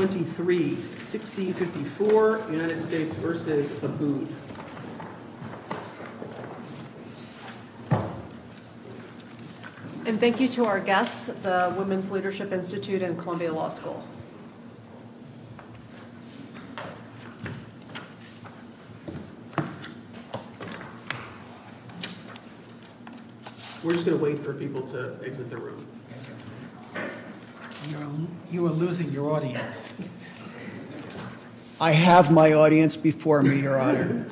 And thank you to our guests, the Women's Leadership Institute and Columbia Law School. We're just going to wait for people to exit the room. You are losing your audience. I have my audience before me, Your Honor.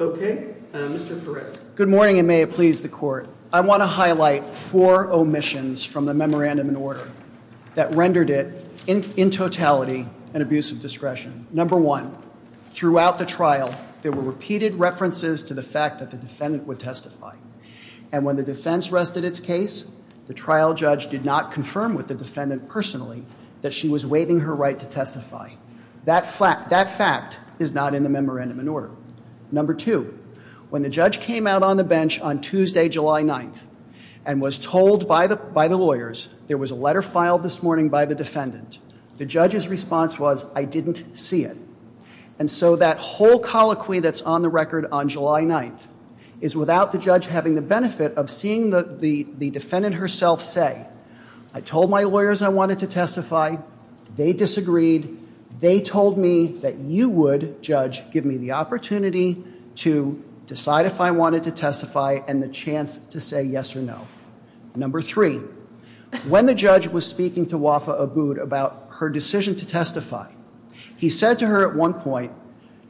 Okay, Mr. Perez. Good morning, and may it please the Court. I want to highlight four omissions from the memorandum in order that rendered it in totality an abuse of discretion. Number one, throughout the trial, there were repeated references to the fact that the defendant would testify. And when the defense rested its case, the trial judge did not confirm with the defendant personally that she was waiving her right to testify. That fact is not in the memorandum in order. Number two, when the judge came out on the bench on Tuesday, July 9th, and was told by the lawyers there was a letter filed this morning by the defendant, the judge's response was, I didn't see it. And so that whole colloquy that's on the record on July 9th is without the judge having the benefit of seeing the defendant herself say, I told my lawyers I wanted to testify. They disagreed. They told me that you would, judge, give me the opportunity to decide if I wanted to testify and the chance to say yes or no. Number three, when the judge was speaking to Wafaa Abood about her decision to testify, he said to her at one point,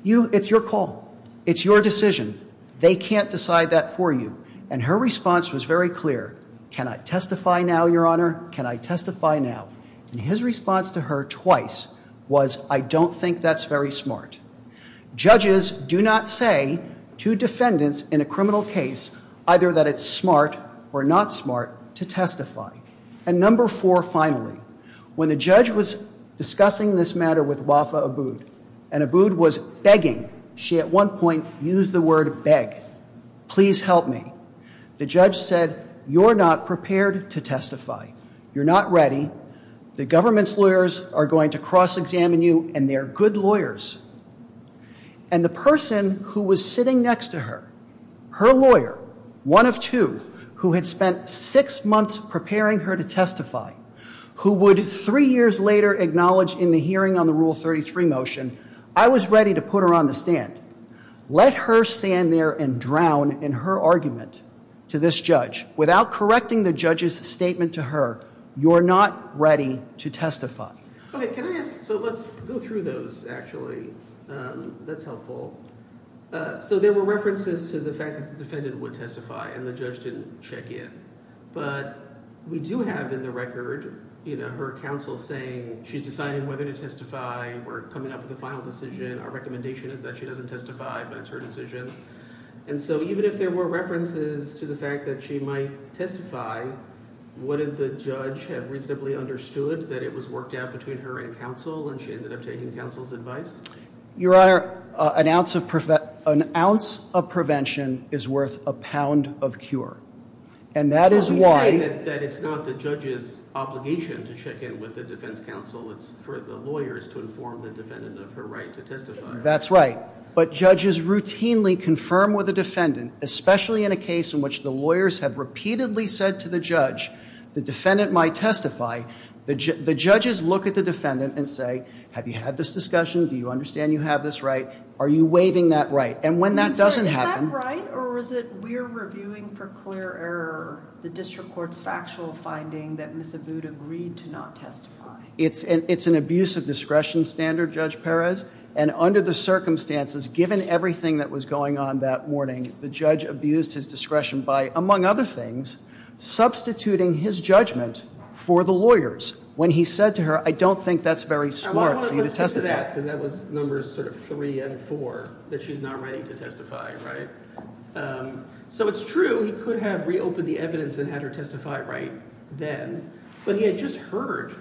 it's your call. It's your decision. They can't decide that for you. And her response was very clear. Can I testify now, Your Honor? Can I testify now? And his response to her twice was, I don't think that's very smart. Judges do not say to defendants in a criminal case either that it's smart or not smart to testify. And number four, finally, when the judge was discussing this matter with Wafaa Abood and Abood was begging, she at one point used the word beg. Please help me. The judge said, you're not prepared to testify. You're not ready. The government's lawyers are going to cross-examine you, and they're good lawyers. And the person who was sitting next to her, her lawyer, one of two, who had spent six months preparing her to testify, who would three years later acknowledge in the hearing on the Rule 33 motion, I was ready to put her on the stand. Let her stand there and drown in her argument to this judge without correcting the judge's statement to her. You're not ready to testify. So let's go through those, actually. That's helpful. So there were references to the fact that the defendant would testify and the judge didn't check in. But we do have in the record her counsel saying she's deciding whether to testify or coming up with a final decision. Our recommendation is that she doesn't testify, but it's her decision. And so even if there were references to the fact that she might testify, wouldn't the judge have reasonably understood that it was worked out between her and counsel and she ended up taking counsel's advice? Your Honor, an ounce of prevention is worth a pound of cure. And that is why- You say that it's not the judge's obligation to check in with the defense counsel. It's for the lawyers to inform the defendant of her right to testify. That's right. But judges routinely confirm with the defendant, especially in a case in which the lawyers have repeatedly said to the judge, the defendant might testify, the judges look at the defendant and say, have you had this discussion? Do you understand you have this right? Are you waiving that right? And when that doesn't happen- Is that right or is it we're reviewing for clear error the district court's factual finding that Ms. Abboud agreed to not testify? It's an abuse of discretion standard, Judge Perez. And under the circumstances, given everything that was going on that morning, the judge abused his discretion by, among other things, substituting his judgment for the lawyers. When he said to her, I don't think that's very smart for you to testify. Because that was numbers sort of three and four, that she's not ready to testify, right? So it's true he could have reopened the evidence and had her testify right then. But he had just heard,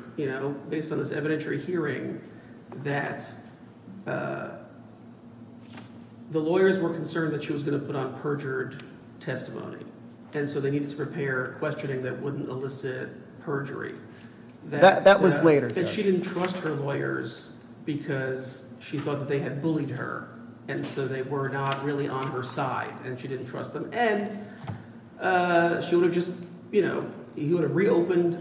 based on this evidentiary hearing, that the lawyers were concerned that she was going to put on perjured testimony. And so they needed to prepare questioning that wouldn't elicit perjury. That was later, Judge. And she didn't trust her lawyers because she thought that they had bullied her, and so they were not really on her side, and she didn't trust them. And she would have just – he would have reopened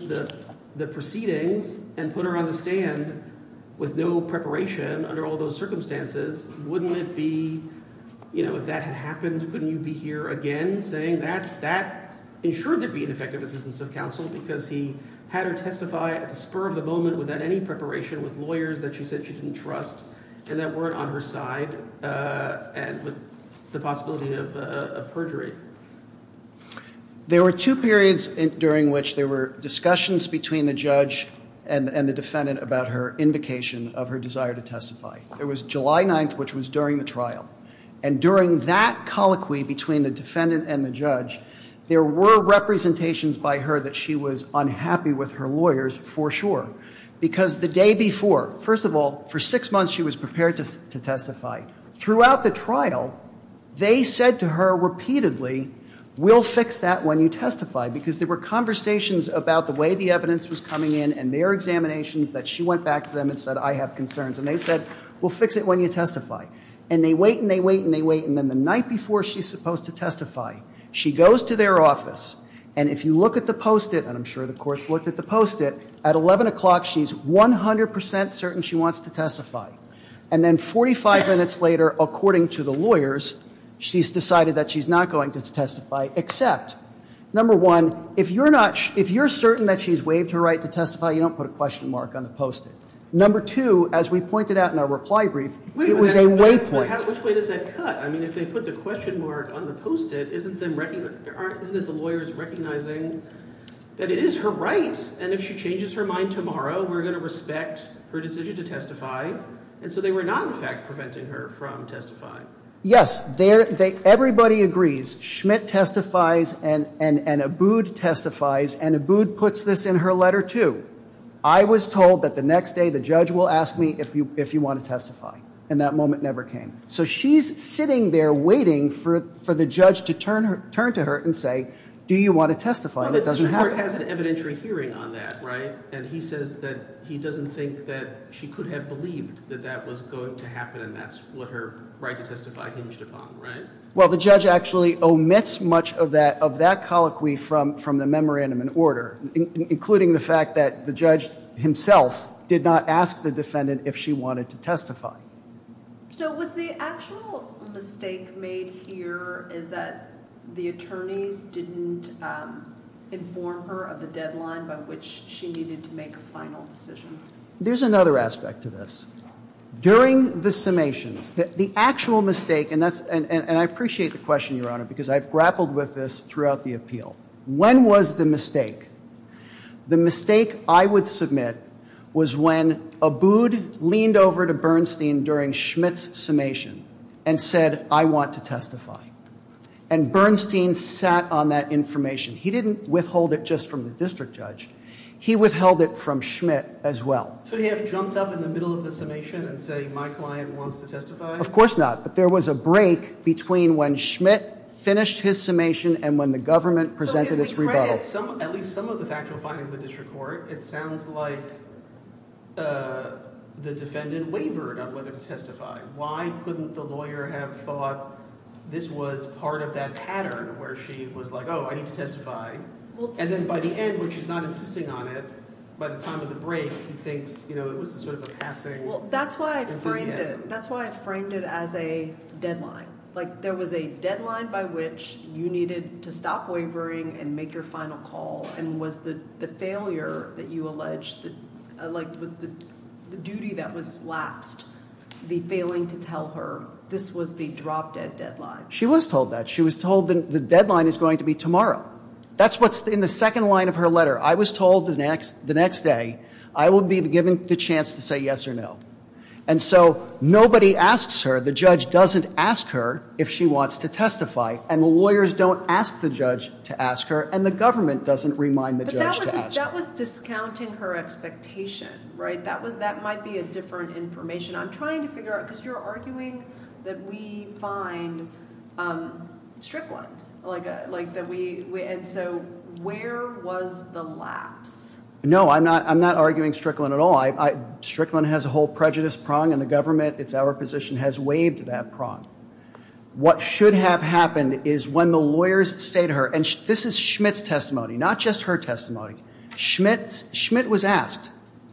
the proceedings and put her on the stand with no preparation under all those circumstances. Wouldn't it be – if that had happened, couldn't you be here again saying that? That ensured there'd be an effective assistance of counsel because he had her testify at the spur of the moment without any preparation with lawyers that she said she didn't trust and that weren't on her side and with the possibility of perjury. There were two periods during which there were discussions between the judge and the defendant about her invocation of her desire to testify. It was July 9th, which was during the trial. And during that colloquy between the defendant and the judge, there were representations by her that she was unhappy with her lawyers for sure. Because the day before – first of all, for six months she was prepared to testify. Throughout the trial, they said to her repeatedly, we'll fix that when you testify. Because there were conversations about the way the evidence was coming in and their examinations that she went back to them and said, I have concerns. And they said, we'll fix it when you testify. And they wait and they wait and they wait. And then the night before she's supposed to testify, she goes to their office. And if you look at the post-it – and I'm sure the courts looked at the post-it – at 11 o'clock, she's 100 percent certain she wants to testify. And then 45 minutes later, according to the lawyers, she's decided that she's not going to testify except, number one, if you're certain that she's waived her right to testify, you don't put a question mark on the post-it. Number two, as we pointed out in our reply brief, it was a waypoint. Which way does that cut? I mean, if they put the question mark on the post-it, isn't it the lawyers recognizing that it is her right? And if she changes her mind tomorrow, we're going to respect her decision to testify. And so they were not, in fact, preventing her from testifying. Yes. Everybody agrees. Schmidt testifies and Abood testifies. And Abood puts this in her letter too. I was told that the next day the judge will ask me if you want to testify. And that moment never came. So she's sitting there waiting for the judge to turn to her and say, do you want to testify? And it doesn't happen. But Mr. Hart has an evidentiary hearing on that, right? And he says that he doesn't think that she could have believed that that was going to happen and that's what her right to testify hinged upon, right? Well, the judge actually omits much of that colloquy from the memorandum in order, including the fact that the judge himself did not ask the defendant if she wanted to testify. So was the actual mistake made here is that the attorneys didn't inform her of the deadline by which she needed to make a final decision? There's another aspect to this. During the summations, the actual mistake, and I appreciate the question, Your Honor, because I've grappled with this throughout the appeal. When was the mistake? The mistake I would submit was when Abood leaned over to Bernstein during Schmidt's summation and said, I want to testify. And Bernstein sat on that information. He didn't withhold it just from the district judge. He withheld it from Schmidt as well. So he hadn't jumped up in the middle of the summation and say, my client wants to testify? Of course not. But there was a break between when Schmidt finished his summation and when the government presented its rebuttal. At least some of the factual findings of the district court, it sounds like the defendant wavered on whether to testify. Why couldn't the lawyer have thought this was part of that pattern where she was like, oh, I need to testify? And then by the end when she's not insisting on it, by the time of the break, he thinks it was sort of a passing enthusiasm. That's why I framed it as a deadline. Like there was a deadline by which you needed to stop wavering and make your final call. And was the failure that you alleged, like the duty that was lapsed, the failing to tell her this was the drop dead deadline? She was told that. She was told the deadline is going to be tomorrow. That's what's in the second line of her letter. I was told the next day I would be given the chance to say yes or no. And so nobody asks her. The judge doesn't ask her if she wants to testify. And the lawyers don't ask the judge to ask her. And the government doesn't remind the judge to ask her. But that was discounting her expectation, right? That might be a different information. I'm trying to figure out, because you're arguing that we find Strickland. And so where was the lapse? No, I'm not arguing Strickland at all. Strickland has a whole prejudice prong, and the government, it's our position, has waived that prong. What should have happened is when the lawyers say to her, and this is Schmidt's testimony, not just her testimony. Schmidt was asked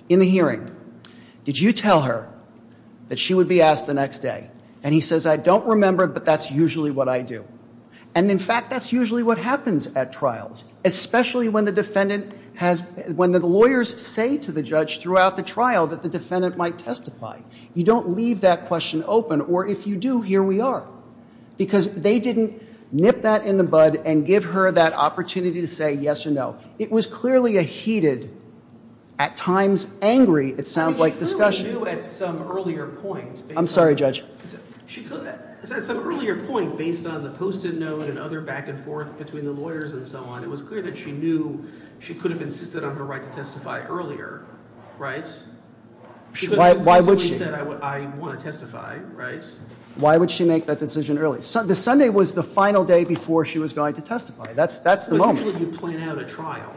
in the hearing, did you tell her that she would be asked the next day? And he says, I don't remember, but that's usually what I do. And, in fact, that's usually what happens at trials, especially when the lawyers say to the judge throughout the trial that the defendant might testify. You don't leave that question open, or if you do, here we are. Because they didn't nip that in the bud and give her that opportunity to say yes or no. It was clearly a heated, at times angry, it sounds like, discussion. She clearly knew at some earlier point. I'm sorry, Judge. At some earlier point, based on the post-it note and other back and forth between the lawyers and so on, it was clear that she knew she could have insisted on her right to testify earlier, right? Why would she? She could have consistently said, I want to testify, right? Why would she make that decision early? The Sunday was the final day before she was going to testify. That's the moment. Usually you plan out a trial,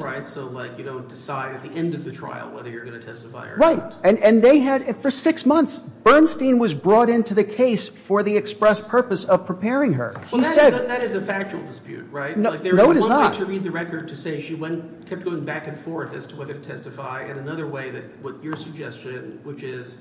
right? So, like, you don't decide at the end of the trial whether you're going to testify or not. And they had, for six months, Bernstein was brought into the case for the express purpose of preparing her. Well, that is a factual dispute, right? No, it is not. There was one way to read the record to say she kept going back and forth as to whether to testify, and another way that what your suggestion, which is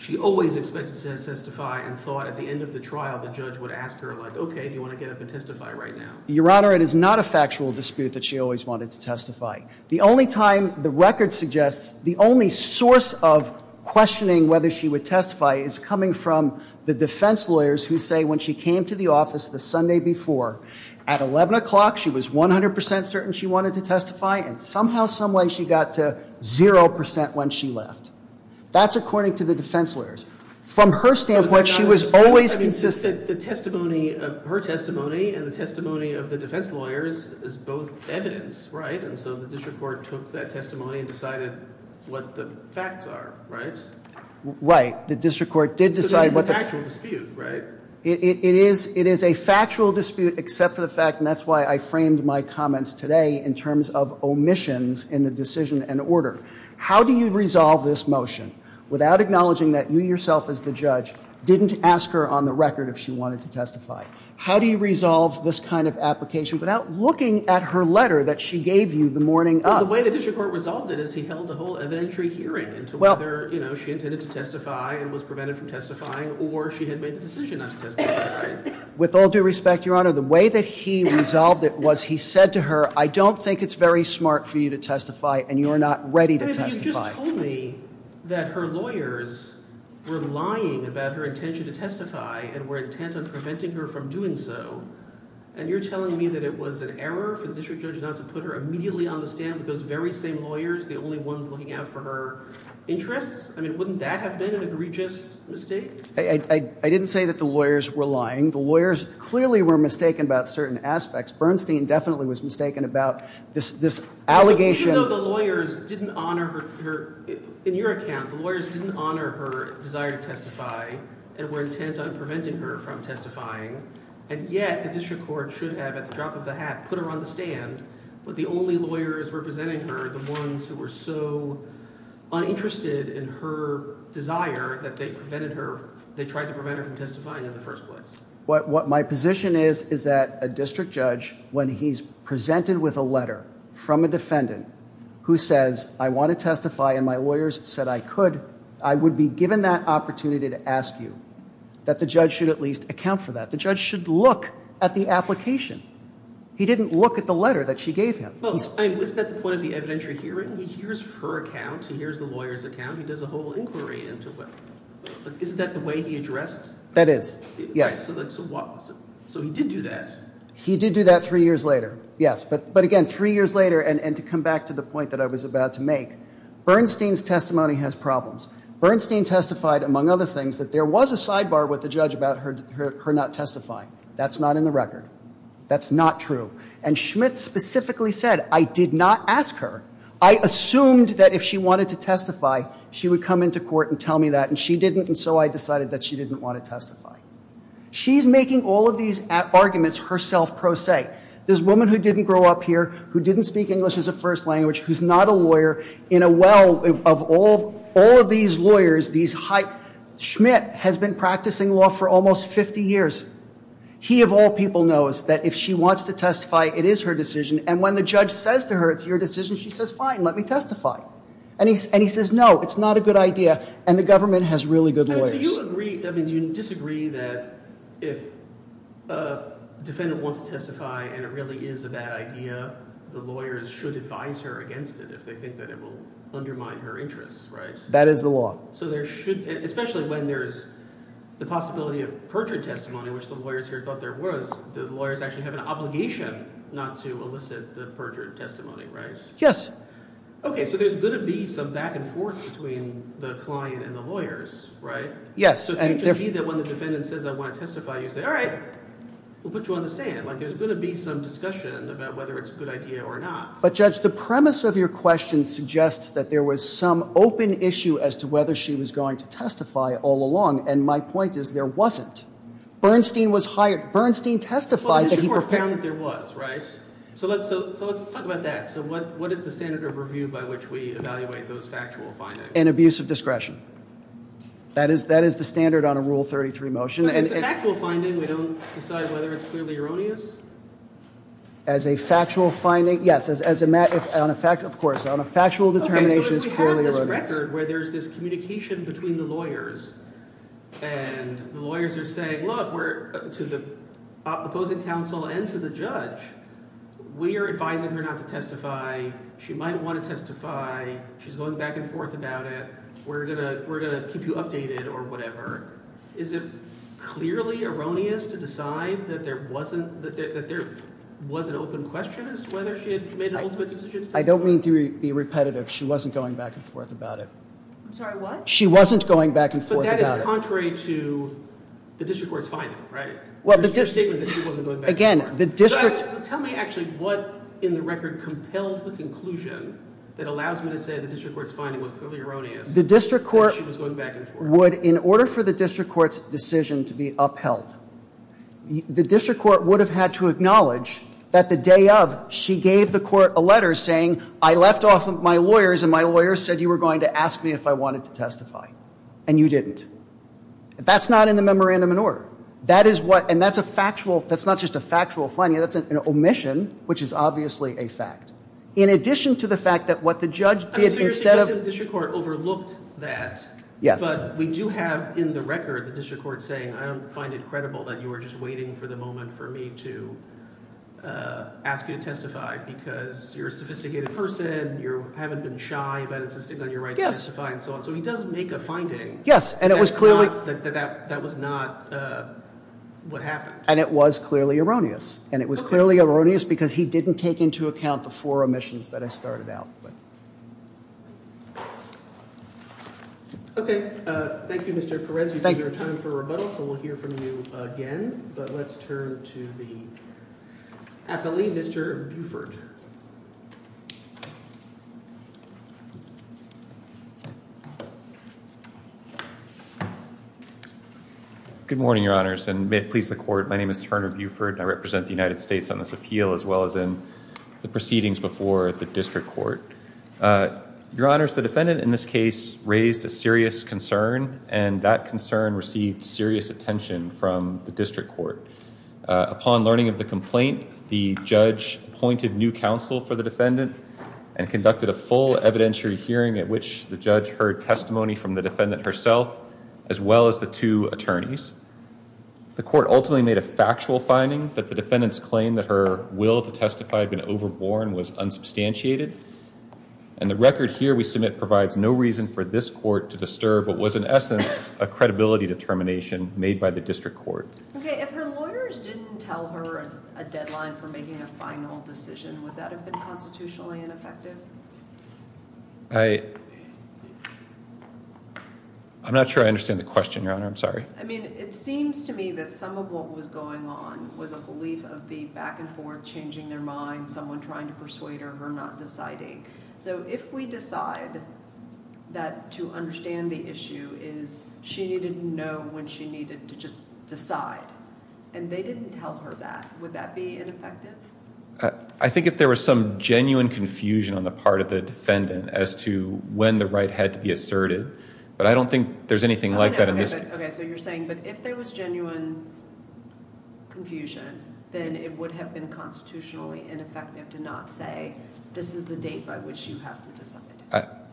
she always expected to testify and thought at the end of the trial the judge would ask her, like, okay, do you want to get up and testify right now? Your Honor, it is not a factual dispute that she always wanted to testify. The only time the record suggests, the only source of questioning whether she would testify is coming from the defense lawyers who say when she came to the office the Sunday before, at 11 o'clock she was 100% certain she wanted to testify, and somehow, someway she got to 0% when she left. That's according to the defense lawyers. From her standpoint, she was always insistent. The testimony, her testimony and the testimony of the defense lawyers is both evidence, right? And so the district court took that testimony and decided what the facts are, right? Right. The district court did decide what the- So it is a factual dispute, right? It is a factual dispute except for the fact, and that's why I framed my comments today in terms of omissions in the decision and order. How do you resolve this motion without acknowledging that you yourself as the judge didn't ask her on the record if she wanted to testify? How do you resolve this kind of application without looking at her letter that she gave you the morning of? Well, the way the district court resolved it is he held a whole evidentiary hearing into whether she intended to testify and was prevented from testifying or she had made the decision not to testify, right? With all due respect, Your Honor, the way that he resolved it was he said to her, I don't think it's very smart for you to testify and you are not ready to testify. He told me that her lawyers were lying about her intention to testify and were intent on preventing her from doing so, and you're telling me that it was an error for the district judge not to put her immediately on the stand with those very same lawyers, the only ones looking out for her interests? I mean, wouldn't that have been an egregious mistake? I didn't say that the lawyers were lying. The lawyers clearly were mistaken about certain aspects. Bernstein definitely was mistaken about this allegation. Even though the lawyers didn't honor her, in your account, the lawyers didn't honor her desire to testify and were intent on preventing her from testifying, and yet the district court should have, at the drop of a hat, put her on the stand, but the only lawyers representing her, the ones who were so uninterested in her desire that they prevented her, they tried to prevent her from testifying in the first place. What my position is is that a district judge, when he's presented with a letter from a defendant who says, I want to testify and my lawyers said I could, I would be given that opportunity to ask you that the judge should at least account for that. The judge should look at the application. He didn't look at the letter that she gave him. Well, I mean, is that the point of the evidentiary hearing? He hears her account. He hears the lawyer's account. He does a whole inquiry into it. Isn't that the way he addressed it? That is, yes. So he did do that. He did do that three years later, yes. But, again, three years later, and to come back to the point that I was about to make, Bernstein's testimony has problems. Bernstein testified, among other things, that there was a sidebar with the judge about her not testifying. That's not in the record. That's not true. And Schmitt specifically said, I did not ask her. I assumed that if she wanted to testify, she would come into court and tell me that, and she didn't, and so I decided that she didn't want to testify. She's making all of these arguments herself, pro se. This woman who didn't grow up here, who didn't speak English as a first language, who's not a lawyer, in a well of all of these lawyers, these hype, Schmitt has been practicing law for almost 50 years. He, of all people, knows that if she wants to testify, it is her decision. And when the judge says to her, it's your decision, she says, fine, let me testify. And he says, no, it's not a good idea. And the government has really good lawyers. Do you disagree that if a defendant wants to testify and it really is a bad idea, the lawyers should advise her against it if they think that it will undermine her interests, right? That is the law. So there should, especially when there is the possibility of perjured testimony, which the lawyers here thought there was, the lawyers actually have an obligation not to elicit the perjured testimony, right? Yes. Okay. So there's going to be some back and forth between the client and the lawyers, right? So it could be that when the defendant says I want to testify, you say, all right, we'll put you on the stand. Like there's going to be some discussion about whether it's a good idea or not. But, Judge, the premise of your question suggests that there was some open issue as to whether she was going to testify all along. And my point is there wasn't. Bernstein was hired. Bernstein testified that he – Well, it is more profound that there was, right? So let's talk about that. So what is the standard of review by which we evaluate those factual findings? And abuse of discretion. That is the standard on a Rule 33 motion. As a factual finding, we don't decide whether it's clearly erroneous? As a factual finding, yes. As a – of course. On a factual determination, it's clearly erroneous. Okay. So we have this record where there's this communication between the lawyers, and the lawyers are saying, look, to the opposing counsel and to the judge, we are advising her not to testify. She might want to testify. She's going back and forth about it. We're going to keep you updated or whatever. Is it clearly erroneous to decide that there wasn't – that there was an open question as to whether she had made an ultimate decision to testify? I don't mean to be repetitive. She wasn't going back and forth about it. I'm sorry, what? She wasn't going back and forth about it. But that is contrary to the district court's finding, right? Your statement that she wasn't going back and forth. Again, the district – So tell me actually what in the record compels the conclusion that allows me to say the district court's finding was clearly erroneous that she was going back and forth. The district court would – in order for the district court's decision to be upheld, the district court would have had to acknowledge that the day of, she gave the court a letter saying, I left off my lawyers, and my lawyers said you were going to ask me if I wanted to testify, and you didn't. That's not in the memorandum in order. That is what – and that's a factual – that's not just a factual finding. That's an omission, which is obviously a fact. In addition to the fact that what the judge did instead of – So you're suggesting the district court overlooked that. Yes. But we do have in the record the district court saying I don't find it credible that you were just waiting for the moment for me to ask you to testify because you're a sophisticated person, you haven't been shy about insisting on your right to testify and so on. So he does make a finding. Yes, and it was clearly – That was not what happened. And it was clearly erroneous, and it was clearly erroneous because he didn't take into account the four omissions that I started out with. Okay. Thank you, Mr. Perez. Thank you. We have time for a rebuttal, so we'll hear from you again, but let's turn to the appellee, Mr. Buford. Good morning, Your Honors, and may it please the Court. My name is Turner Buford, and I represent the United States on this appeal as well as in the proceedings before the district court. Your Honors, the defendant in this case raised a serious concern, and that concern received serious attention from the district court. Upon learning of the complaint, the judge appointed new counsel for the defendant and conducted a full evidentiary hearing at which the judge heard testimony from the defendant herself as well as the two attorneys. The court ultimately made a factual finding that the defendant's claim that her will to testify had been overborne was unsubstantiated, and the record here we submit provides no reason for this court to disturb what was in essence a credibility determination made by the district court. Okay. If her lawyers didn't tell her a deadline for making a final decision, would that have been constitutionally ineffective? I... I'm not sure I understand the question, Your Honor. I'm sorry. I mean, it seems to me that some of what was going on was a belief of the back and forth, changing their minds, someone trying to persuade her, her not deciding. So if we decide that to understand the issue is she didn't know when she needed to just decide, and they didn't tell her that, would that be ineffective? I think if there was some genuine confusion on the part of the defendant as to when the right had to be asserted, but I don't think there's anything like that in this case. Okay, so you're saying, but if there was genuine confusion, then it would have been constitutionally ineffective to not say this is the date by which you have to decide.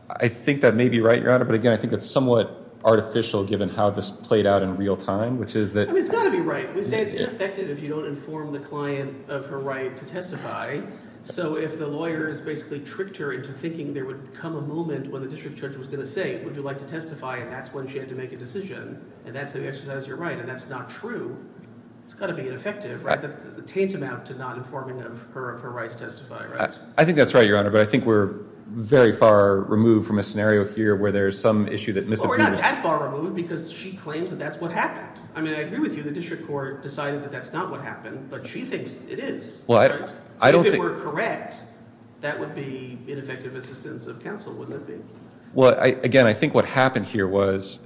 I think that may be right, Your Honor, but again, I think that's somewhat artificial given how this played out in real time, which is that... I mean, it's got to be right. We say it's ineffective if you don't inform the client of her right to testify. So if the lawyers basically tricked her into thinking there would come a moment when the district judge was going to say, would you like to testify, and that's when she had to make a decision, and that's how you exercise your right, and that's not true, it's got to be ineffective, right? That's the tantamount to not informing her of her right to testify, right? I think that's right, Your Honor, but I think we're very far removed from a scenario here where there's some issue that misinterprets... Well, we're not that far removed because she claims that that's what happened. I mean, I agree with you. The district court decided that that's not what happened, but she thinks it is, right? So if it were correct, that would be ineffective assistance of counsel, wouldn't it be? Well, again, I think what happened here was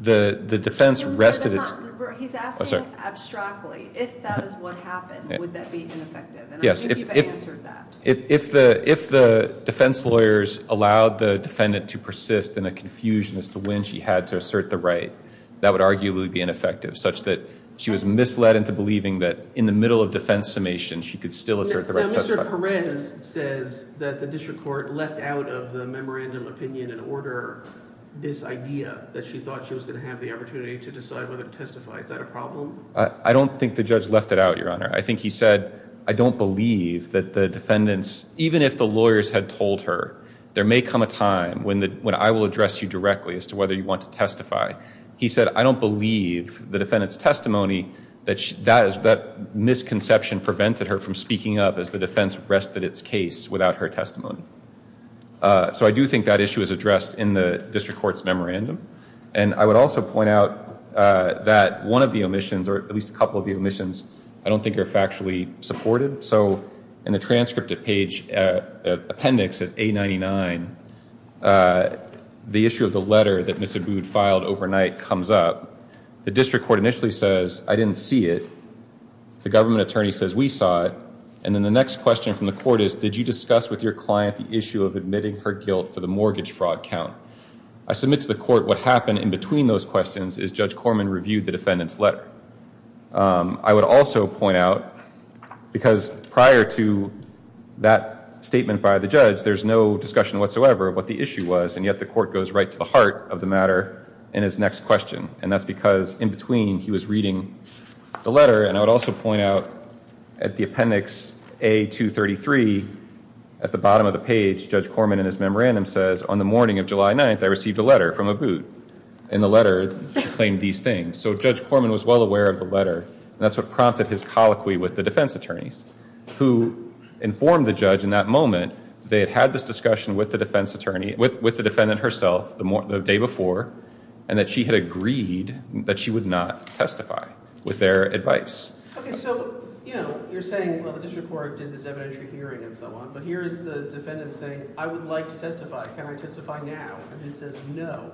the defense rested its... He's asking abstractly if that is what happened, would that be ineffective? And I believe you've answered that. If the defense lawyers allowed the defendant to persist in a confusion as to when she had to assert the right, that would arguably be ineffective, such that she was misled into believing that in the middle of defense summation she could still assert the right to testify. Now, Mr. Perez says that the district court left out of the memorandum of opinion and order this idea that she thought she was going to have the opportunity to decide whether to testify. Is that a problem? I don't think the judge left it out, Your Honor. I think he said, I don't believe that the defendants, even if the lawyers had told her, there may come a time when I will address you directly as to whether you want to testify. He said, I don't believe the defendant's testimony, that misconception prevented her from speaking up as the defense rested its case without her testimony. So I do think that issue is addressed in the district court's memorandum. And I would also point out that one of the omissions, or at least a couple of the omissions, I don't think are factually supported. So in the transcript at page appendix at A99, the issue of the letter that Ms. Abood filed overnight comes up. The district court initially says, I didn't see it. The government attorney says, we saw it. And then the next question from the court is, did you discuss with your client the issue of admitting her guilt for the mortgage fraud count? I submit to the court what happened in between those questions is Judge Corman reviewed the defendant's letter. I would also point out, because prior to that statement by the judge, there's no discussion whatsoever of what the issue was. And yet the court goes right to the heart of the matter in his next question. And that's because in between, he was reading the letter. And I would also point out at the appendix A233, at the bottom of the page, Judge Corman in his memorandum says, on the morning of July 9th, I received a letter from Abood. And the letter claimed these things. So Judge Corman was well aware of the letter. That's what prompted his colloquy with the defense attorneys, who informed the judge in that moment that they had had this discussion with the defense attorney, with the defendant herself, the day before, and that she had agreed that she would not testify with their advice. Okay, so, you know, you're saying, well, the district court did this evidentiary hearing and so on. But here is the defendant saying, I would like to testify. Can I testify now? And he says, no.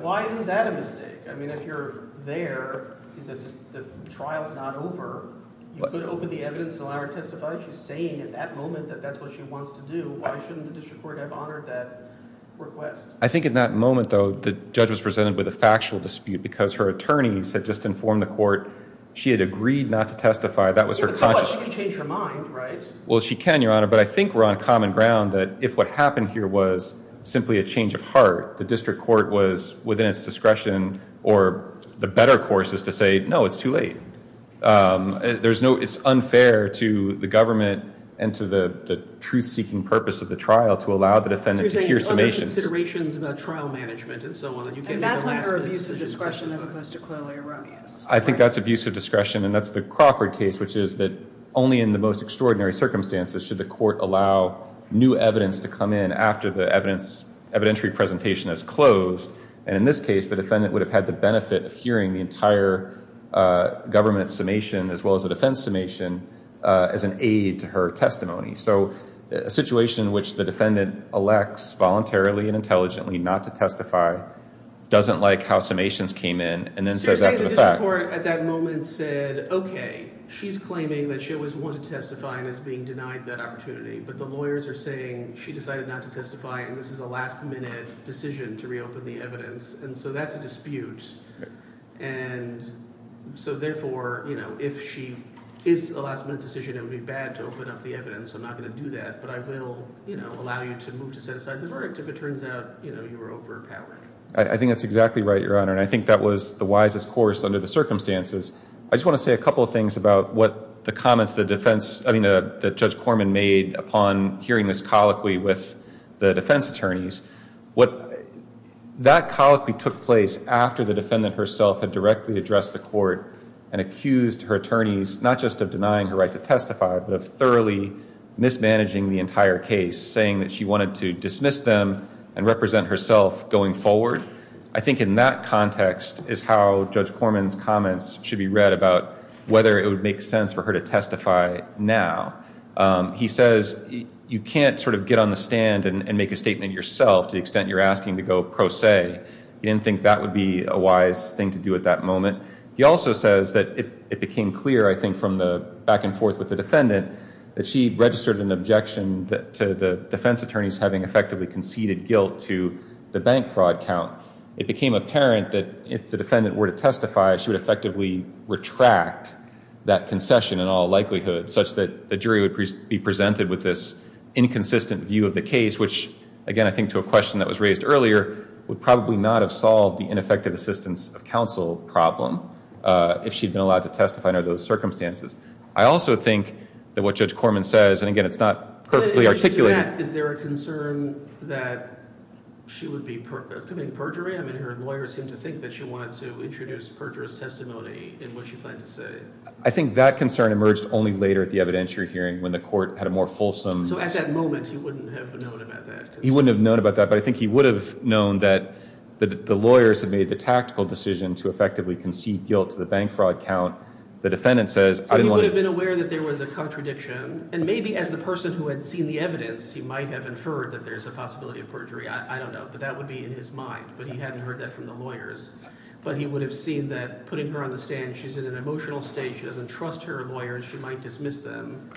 Why isn't that a mistake? I mean, if you're there, the trial's not over. You could open the evidence and allow her to testify. She's saying at that moment that that's what she wants to do. Why shouldn't the district court have honored that request? I think in that moment, though, the judge was presented with a factual dispute because her attorneys had just informed the court she had agreed not to testify. That was her conscious – Yeah, but she can change her mind, right? Well, she can, Your Honor, but I think we're on common ground that if what happened here was simply a change of heart, the district court was within its discretion or the better course is to say, no, it's too late. It's unfair to the government and to the truth-seeking purpose of the trial to allow the defendant to hear summations. There's other considerations about trial management and so on. And that's not her abuse of discretion as opposed to clearly erroneous. I think that's abuse of discretion, and that's the Crawford case, which is that only in the most extraordinary circumstances should the court allow new evidence to come in after the evidentiary presentation has closed. And in this case, the defendant would have had the benefit of hearing the entire government summation as well as the defense summation as an aid to her testimony. So a situation in which the defendant elects voluntarily and intelligently not to testify, doesn't like how summations came in, and then says after the fact – So you're saying the district court at that moment said, okay, she's claiming that she always wanted to testify and is being denied that opportunity, but the lawyers are saying she decided not to testify and this is a last-minute decision to reopen the evidence. And so that's a dispute. And so therefore, if she is a last-minute decision, it would be bad to open up the evidence. I'm not going to do that. But I will allow you to move to set aside the verdict if it turns out you were overpowering. I think that's exactly right, Your Honor. And I think that was the wisest course under the circumstances. I just want to say a couple of things about what the comments the defense – I mean, that Judge Corman made upon hearing this colloquy with the defense attorneys. That colloquy took place after the defendant herself had directly addressed the court and accused her attorneys not just of denying her right to testify, but of thoroughly mismanaging the entire case, saying that she wanted to dismiss them and represent herself going forward. I think in that context is how Judge Corman's comments should be read about whether it would make sense for her to testify now. He says you can't sort of get on the stand and make a statement yourself to the extent you're asking to go pro se. He didn't think that would be a wise thing to do at that moment. He also says that it became clear, I think, from the back and forth with the defendant, that she registered an objection to the defense attorneys having effectively conceded guilt to the bank fraud count. It became apparent that if the defendant were to testify, she would effectively retract that concession in all likelihood, such that the jury would be presented with this inconsistent view of the case which, again, I think to a question that was raised earlier, would probably not have solved the ineffective assistance of counsel problem if she'd been allowed to testify under those circumstances. I also think that what Judge Corman says, and again, it's not perfectly articulated. Is there a concern that she would be committing perjury? I mean, her lawyers seem to think that she wanted to introduce perjurous testimony in what she planned to say. I think that concern emerged only later at the evidentiary hearing when the court had a more fulsome... So at that moment, he wouldn't have known about that. He wouldn't have known about that, but I think he would have known that the lawyers had made the tactical decision to effectively concede guilt to the bank fraud count. The defendant says, I didn't want to... He would have been aware that there was a contradiction, and maybe as the person who had seen the evidence, he might have inferred that there's a possibility of perjury. I don't know, but that would be in his mind. But he hadn't heard that from the lawyers. But he would have seen that putting her on the stand, she's in an emotional state, she doesn't trust her lawyers, she might dismiss them,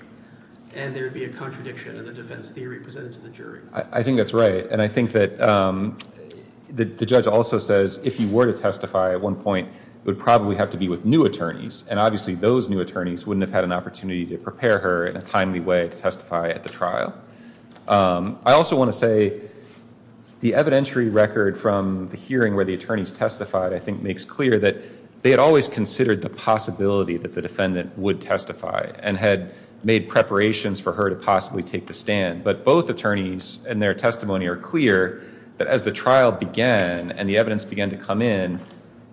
and there would be a contradiction in the defense theory presented to the jury. I think that's right, and I think that the judge also says, if he were to testify at one point, it would probably have to be with new attorneys, and obviously those new attorneys wouldn't have had an opportunity to prepare her in a timely way to testify at the trial. I also want to say, the evidentiary record from the hearing where the attorneys testified, I think, makes clear that they had always considered the possibility that the defendant would testify, and had made preparations for her to possibly take the stand. But both attorneys, in their testimony, are clear that as the trial began, and the evidence began to come in,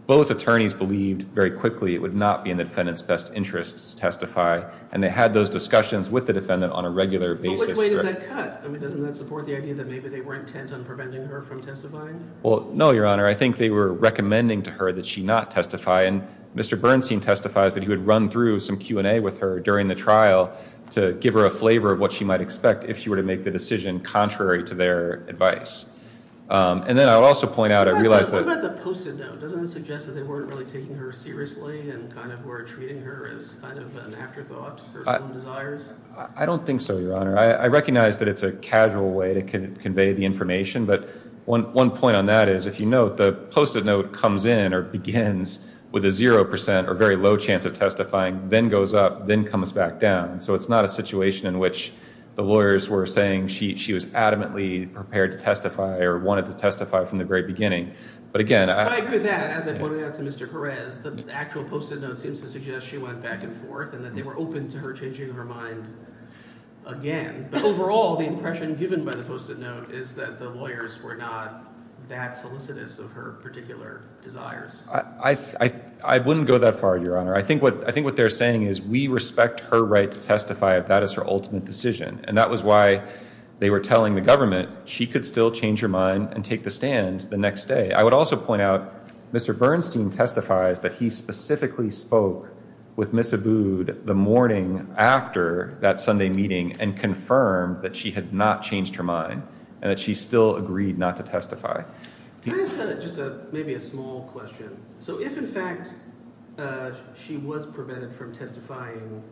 both attorneys believed very quickly it would not be in the defendant's best interest to testify, and they had those discussions with the defendant on a regular basis. But which way does that cut? I mean, doesn't that support the idea that maybe they were intent on preventing her from testifying? Well, no, Your Honor, I think they were recommending to her that she not testify, and Mr. Bernstein testifies that he would run through some Q&A with her during the trial to give her a flavor of what she might expect if she were to make the decision contrary to their advice. And then I would also point out, I realize that... What about the post-it note? Doesn't it suggest that they weren't really taking her seriously and kind of were treating her as kind of an afterthought, her own desires? I don't think so, Your Honor. I recognize that it's a casual way to convey the information, but one point on that is, if you note, the post-it note comes in or begins with a 0% or very low chance of testifying, then goes up, then comes back down. So it's not a situation in which the lawyers were saying she was adamantly prepared to testify or wanted to testify from the very beginning. But again, I... I agree with that. As I pointed out to Mr. Perez, the actual post-it note seems to suggest she went back and forth and that they were open to her changing her mind again. But overall, the impression given by the post-it note is that the lawyers were not that solicitous of her particular desires. I wouldn't go that far, Your Honor. I think what they're saying is we respect her right to testify if that is her ultimate decision. And that was why they were telling the government she could still change her mind and take the stand the next day. I would also point out Mr. Bernstein testifies that he specifically spoke with Ms. Abood the morning after that Sunday meeting and confirmed that she had not changed her mind and that she still agreed not to testify. Can I ask just maybe a small question? So if, in fact, she was prevented from testifying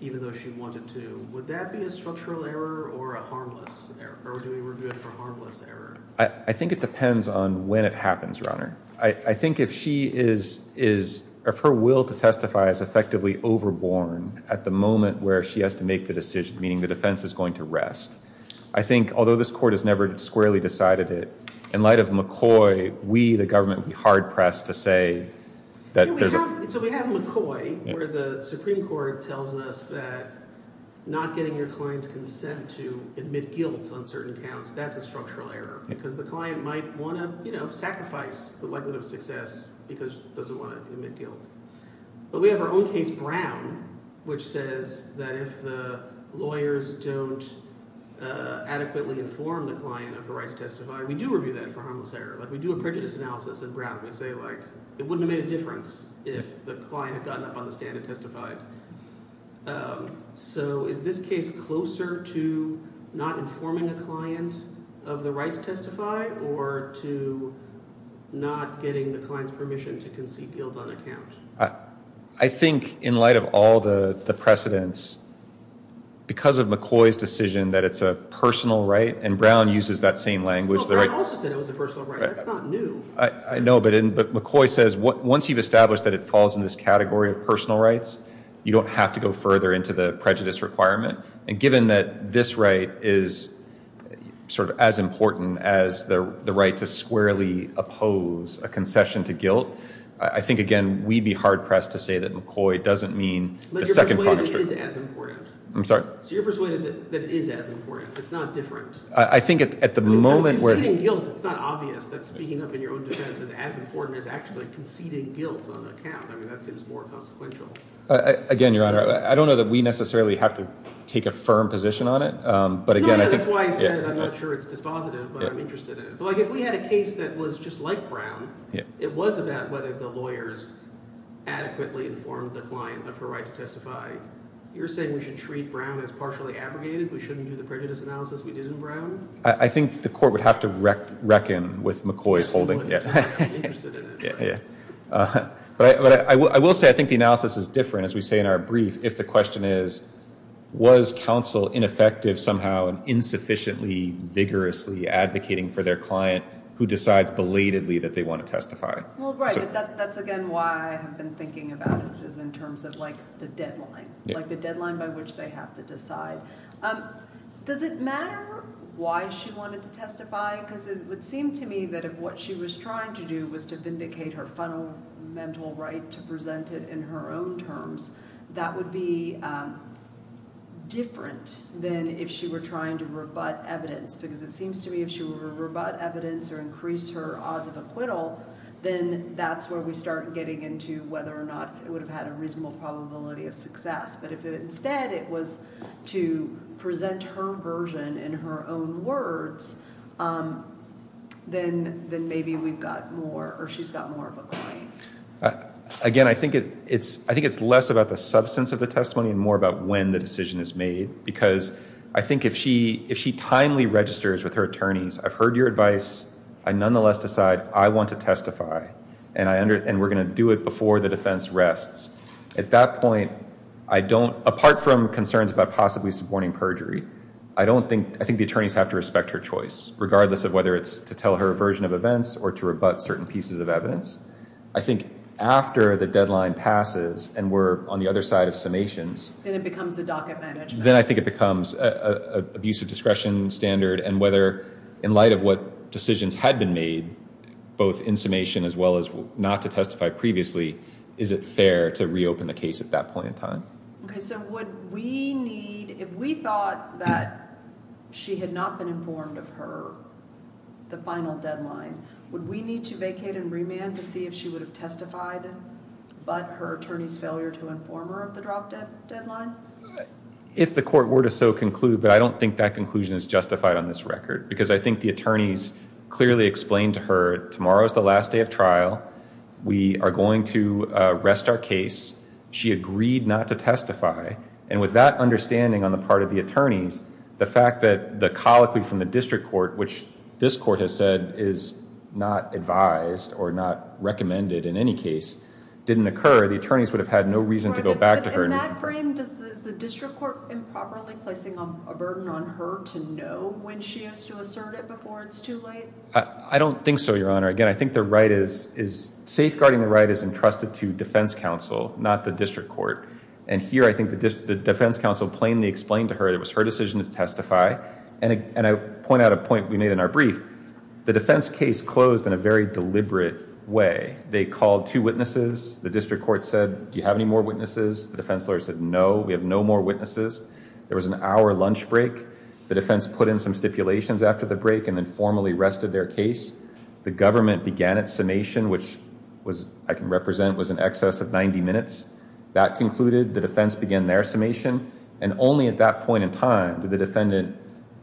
even though she wanted to, would that be a structural error or a harmless error? Or do we regard it as a harmless error? I think it depends on when it happens, Your Honor. I think if she is... if her will to testify is effectively overborne at the moment where she has to make the decision, meaning the defense is going to rest, I think, although this court has never squarely decided it, in light of McCoy, we, the government, would be hard-pressed to say that there's a... So we have McCoy where the Supreme Court tells us that not getting your client's consent to admit guilt on certain counts, that's a structural error because the client might want to, you know, sacrifice the likelihood of success because he doesn't want to admit guilt. But we have our own case, Brown, which says that if the lawyers don't adequately inform the client of the right to testify, we do review that for harmless error. Like, we do a prejudice analysis in Brown. We say, like, it wouldn't have made a difference if the client had gotten up on the stand and testified. So is this case closer to not informing a client of the right to testify or to not getting the client's permission to concede guilt on a count? I think, in light of all the precedents, because of McCoy's decision that it's a personal right, and Brown uses that same language... Well, Brown also said it was a personal right. That's not new. I know, but McCoy says once you've established that it falls in this category of personal rights, you don't have to go further into the prejudice requirement. And given that this right is sort of as important as the right to squarely oppose a concession to guilt, I think, again, we'd be hard-pressed to say that McCoy doesn't mean the second... But you're persuaded it is as important. I'm sorry? So you're persuaded that it is as important. It's not different. I think at the moment... Conceding guilt, it's not obvious that speaking up in your own defense is as important as actually conceding guilt on a count. I mean, that seems more consequential. Again, Your Honor, I don't know that we necessarily have to take a firm position on it, but again... No, because that's why I said I'm not sure it's dispositive, but I'm interested in it. Like, if we had a case that was just like Brown, it was about whether the lawyers adequately informed the client of her right to testify. You're saying we should treat Brown as partially abrogated? We shouldn't do the prejudice analysis we did in Brown? I think the court would have to reckon with McCoy's holding. I'm interested in it. But I will say I think the analysis is different, as we say in our brief, if the question is, was counsel ineffective somehow in insufficiently vigorously advocating for their client who decides belatedly that they want to testify. Well, right, but that's again why I have been thinking about it, which is in terms of, like, the deadline. Like, the deadline by which they have to decide. Does it matter why she wanted to testify? Because it would seem to me that if what she was trying to do was to vindicate her fundamental right to present it in her own terms, that would be different than if she were trying to rebut evidence. Because it seems to me if she were to rebut evidence or increase her odds of acquittal, then that's where we start getting into whether or not it would have had a reasonable probability of success. But if instead it was to present her version in her own words, then maybe we've got more, or she's got more of a claim. Again, I think it's less about the substance of the testimony and more about when the decision is made. Because I think if she timely registers with her attorneys, I've heard your advice, I nonetheless decide I want to testify, and we're going to do it before the defense rests. At that point, apart from concerns about possibly supporting perjury, I think the attorneys have to respect her choice, regardless of whether it's to tell her a version of events or to rebut certain pieces of evidence. I think after the deadline passes and we're on the other side of summations... Then it becomes a docket management. Then I think it becomes an abuse of discretion standard, and whether in light of what decisions had been made, both in summation as well as not to testify previously, is it fair to reopen the case at that point in time. Okay, so would we need... If we thought that she had not been informed of her, the final deadline, would we need to vacate and remand to see if she would have testified but her attorney's failure to inform her of the dropped deadline? If the court were to so conclude, but I don't think that conclusion is justified on this record because I think the attorneys clearly explained to her, tomorrow is the last day of trial. We are going to rest our case. She agreed not to testify, and with that understanding on the part of the attorneys, the fact that the colloquy from the district court, which this court has said is not advised or not recommended in any case, didn't occur, the attorneys would have had no reason to go back to her. In that frame, is the district court improperly placing a burden on her to know when she has to assert it before it's too late? I don't think so, Your Honor. Again, I think safeguarding the right is entrusted to defense counsel, not the district court, and here I think the defense counsel plainly explained to her it was her decision to testify, and I point out a point we made in our brief. The defense case closed in a very deliberate way. They called two witnesses. The district court said, do you have any more witnesses? The defense lawyer said, no, we have no more witnesses. There was an hour lunch break. The defense put in some stipulations after the break and then formally rested their case. The government began its summation, which I can represent was in excess of 90 minutes. That concluded, the defense began their summation, and only at that point in time did the defendant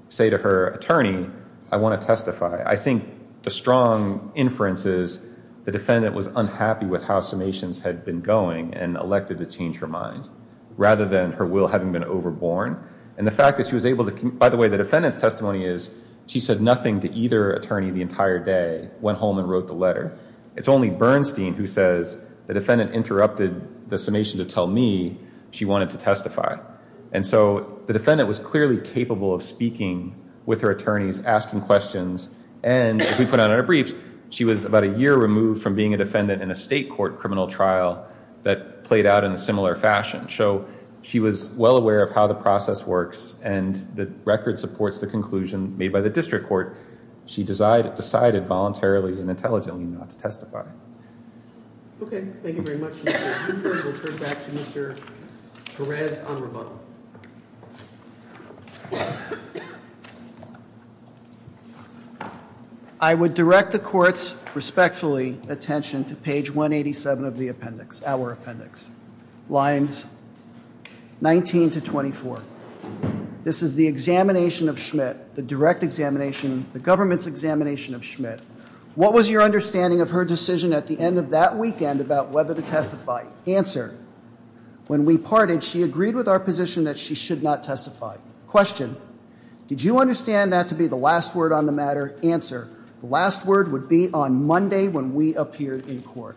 say to her attorney, I want to testify. I think the strong inference is the defendant was unhappy with how summations had been going and elected to change her mind rather than her will having been overborne, and the fact that she was able to, by the way the defendant's testimony is she said nothing to either attorney the entire day, went home and wrote the letter. It's only Bernstein who says the defendant interrupted the summation to tell me she wanted to testify, and so the defendant was clearly capable of speaking with her attorneys, asking questions, and as we put out in our briefs, she was about a year removed from being a defendant in a state court criminal trial that played out in a similar fashion. So she was well aware of how the process works and the record supports the conclusion made by the district court. She decided voluntarily and intelligently not to testify. Okay, thank you very much. We'll turn back to Mr. Perez-Amraban. I would direct the court's respectfully attention to page 187 of the appendix, our appendix, lines 19 to 24. This is the examination of Schmidt, the direct examination, the government's examination of Schmidt. What was your understanding of her decision at the end of that weekend about whether to testify? When we parted, she agreed with our position that she should not testify. Question. Did you understand that to be the last word on the matter? Answer. The last word would be on Monday when we appeared in court.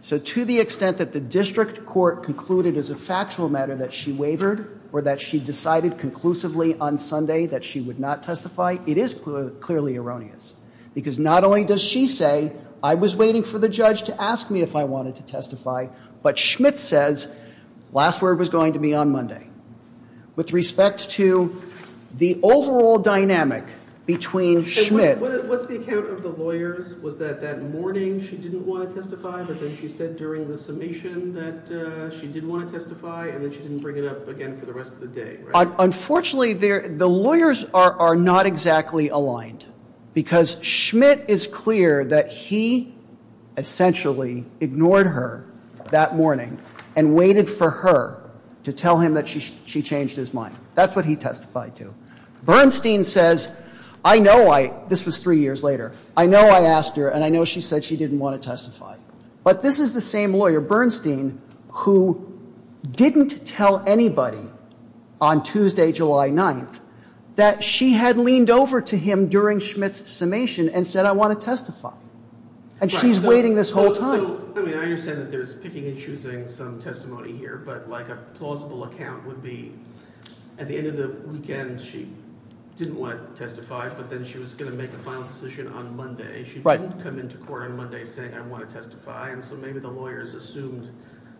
So to the extent that the district court concluded as a factual matter that she wavered or that she decided conclusively on Sunday that she would not testify, it is clearly erroneous, because not only does she say, I was waiting for the judge to ask me if I wanted to testify, but Schmidt says last word was going to be on Monday. With respect to the overall dynamic between Schmidt. What's the account of the lawyers? Was that that morning she didn't want to testify, but then she said during the summation that she did want to testify, and then she didn't bring it up again for the rest of the day, right? Unfortunately, the lawyers are not exactly aligned, because Schmidt is clear that he essentially ignored her that morning and waited for her to tell him that she changed his mind. That's what he testified to. Bernstein says, I know I, this was three years later, I know I asked her and I know she said she didn't want to testify. But this is the same lawyer, Bernstein, who didn't tell anybody on Tuesday, July 9th, that she had leaned over to him during Schmidt's summation and said I want to testify. And she's waiting this whole time. I understand that there's picking and choosing some testimony here, but like a plausible account would be at the end of the weekend she didn't want to testify, but then she was going to make a final decision on Monday. She didn't come into court on Monday saying I want to testify, and so maybe the lawyers assumed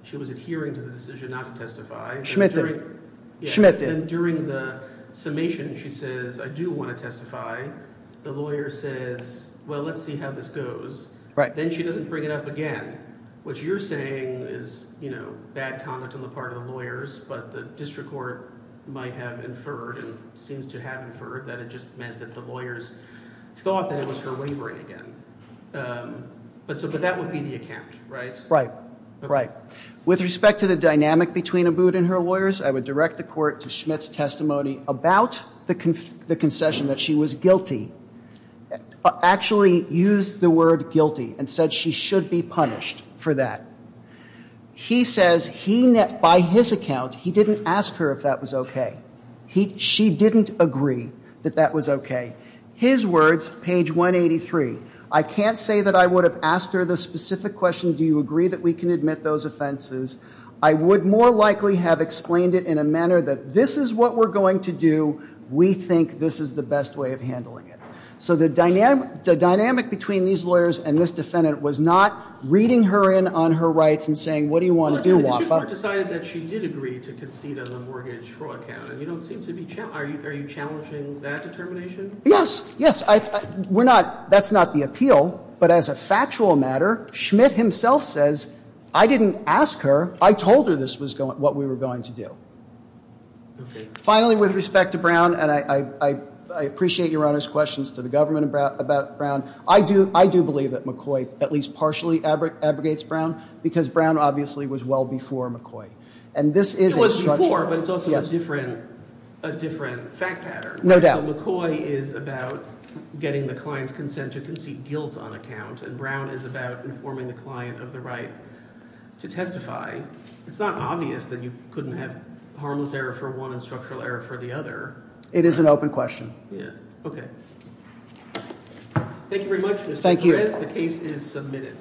she was adhering to the decision not to testify. Schmidt did. Schmidt did. But then during the summation she says I do want to testify. The lawyer says, well, let's see how this goes. Then she doesn't bring it up again. What you're saying is bad comment on the part of the lawyers, but the district court might have inferred and seems to have inferred that it just meant that the lawyers thought that it was her wavering again. But that would be the account, right? Right. Right. With respect to the dynamic between Abood and her lawyers, I would direct the court to Schmidt's testimony about the concession, that she was guilty. Actually used the word guilty and said she should be punished for that. He says by his account he didn't ask her if that was okay. She didn't agree that that was okay. His words, page 183, I can't say that I would have asked her the specific question, do you agree that we can admit those offenses? I would more likely have explained it in a manner that this is what we're going to do. We think this is the best way of handling it. So the dynamic between these lawyers and this defendant was not reading her in on her rights and saying, what do you want to do, Wafa? The district court decided that she did agree to concede on the mortgage fraud count. Are you challenging that determination? Yes. Yes. That's not the appeal. But as a factual matter, Schmidt himself says I didn't ask her, I told her this was what we were going to do. Finally, with respect to Brown, and I appreciate your Honor's questions to the government about Brown, I do believe that McCoy at least partially abrogates Brown because Brown obviously was well before McCoy. It was before, but it's also a different fact pattern. No doubt. McCoy is about getting the client's consent to concede guilt on a count and Brown is about informing the client of the right to testify. It's not obvious that you couldn't have harmless error for one and structural error for the other. It is an open question. Okay. Thank you very much, Mr. Perez. The case is submitted.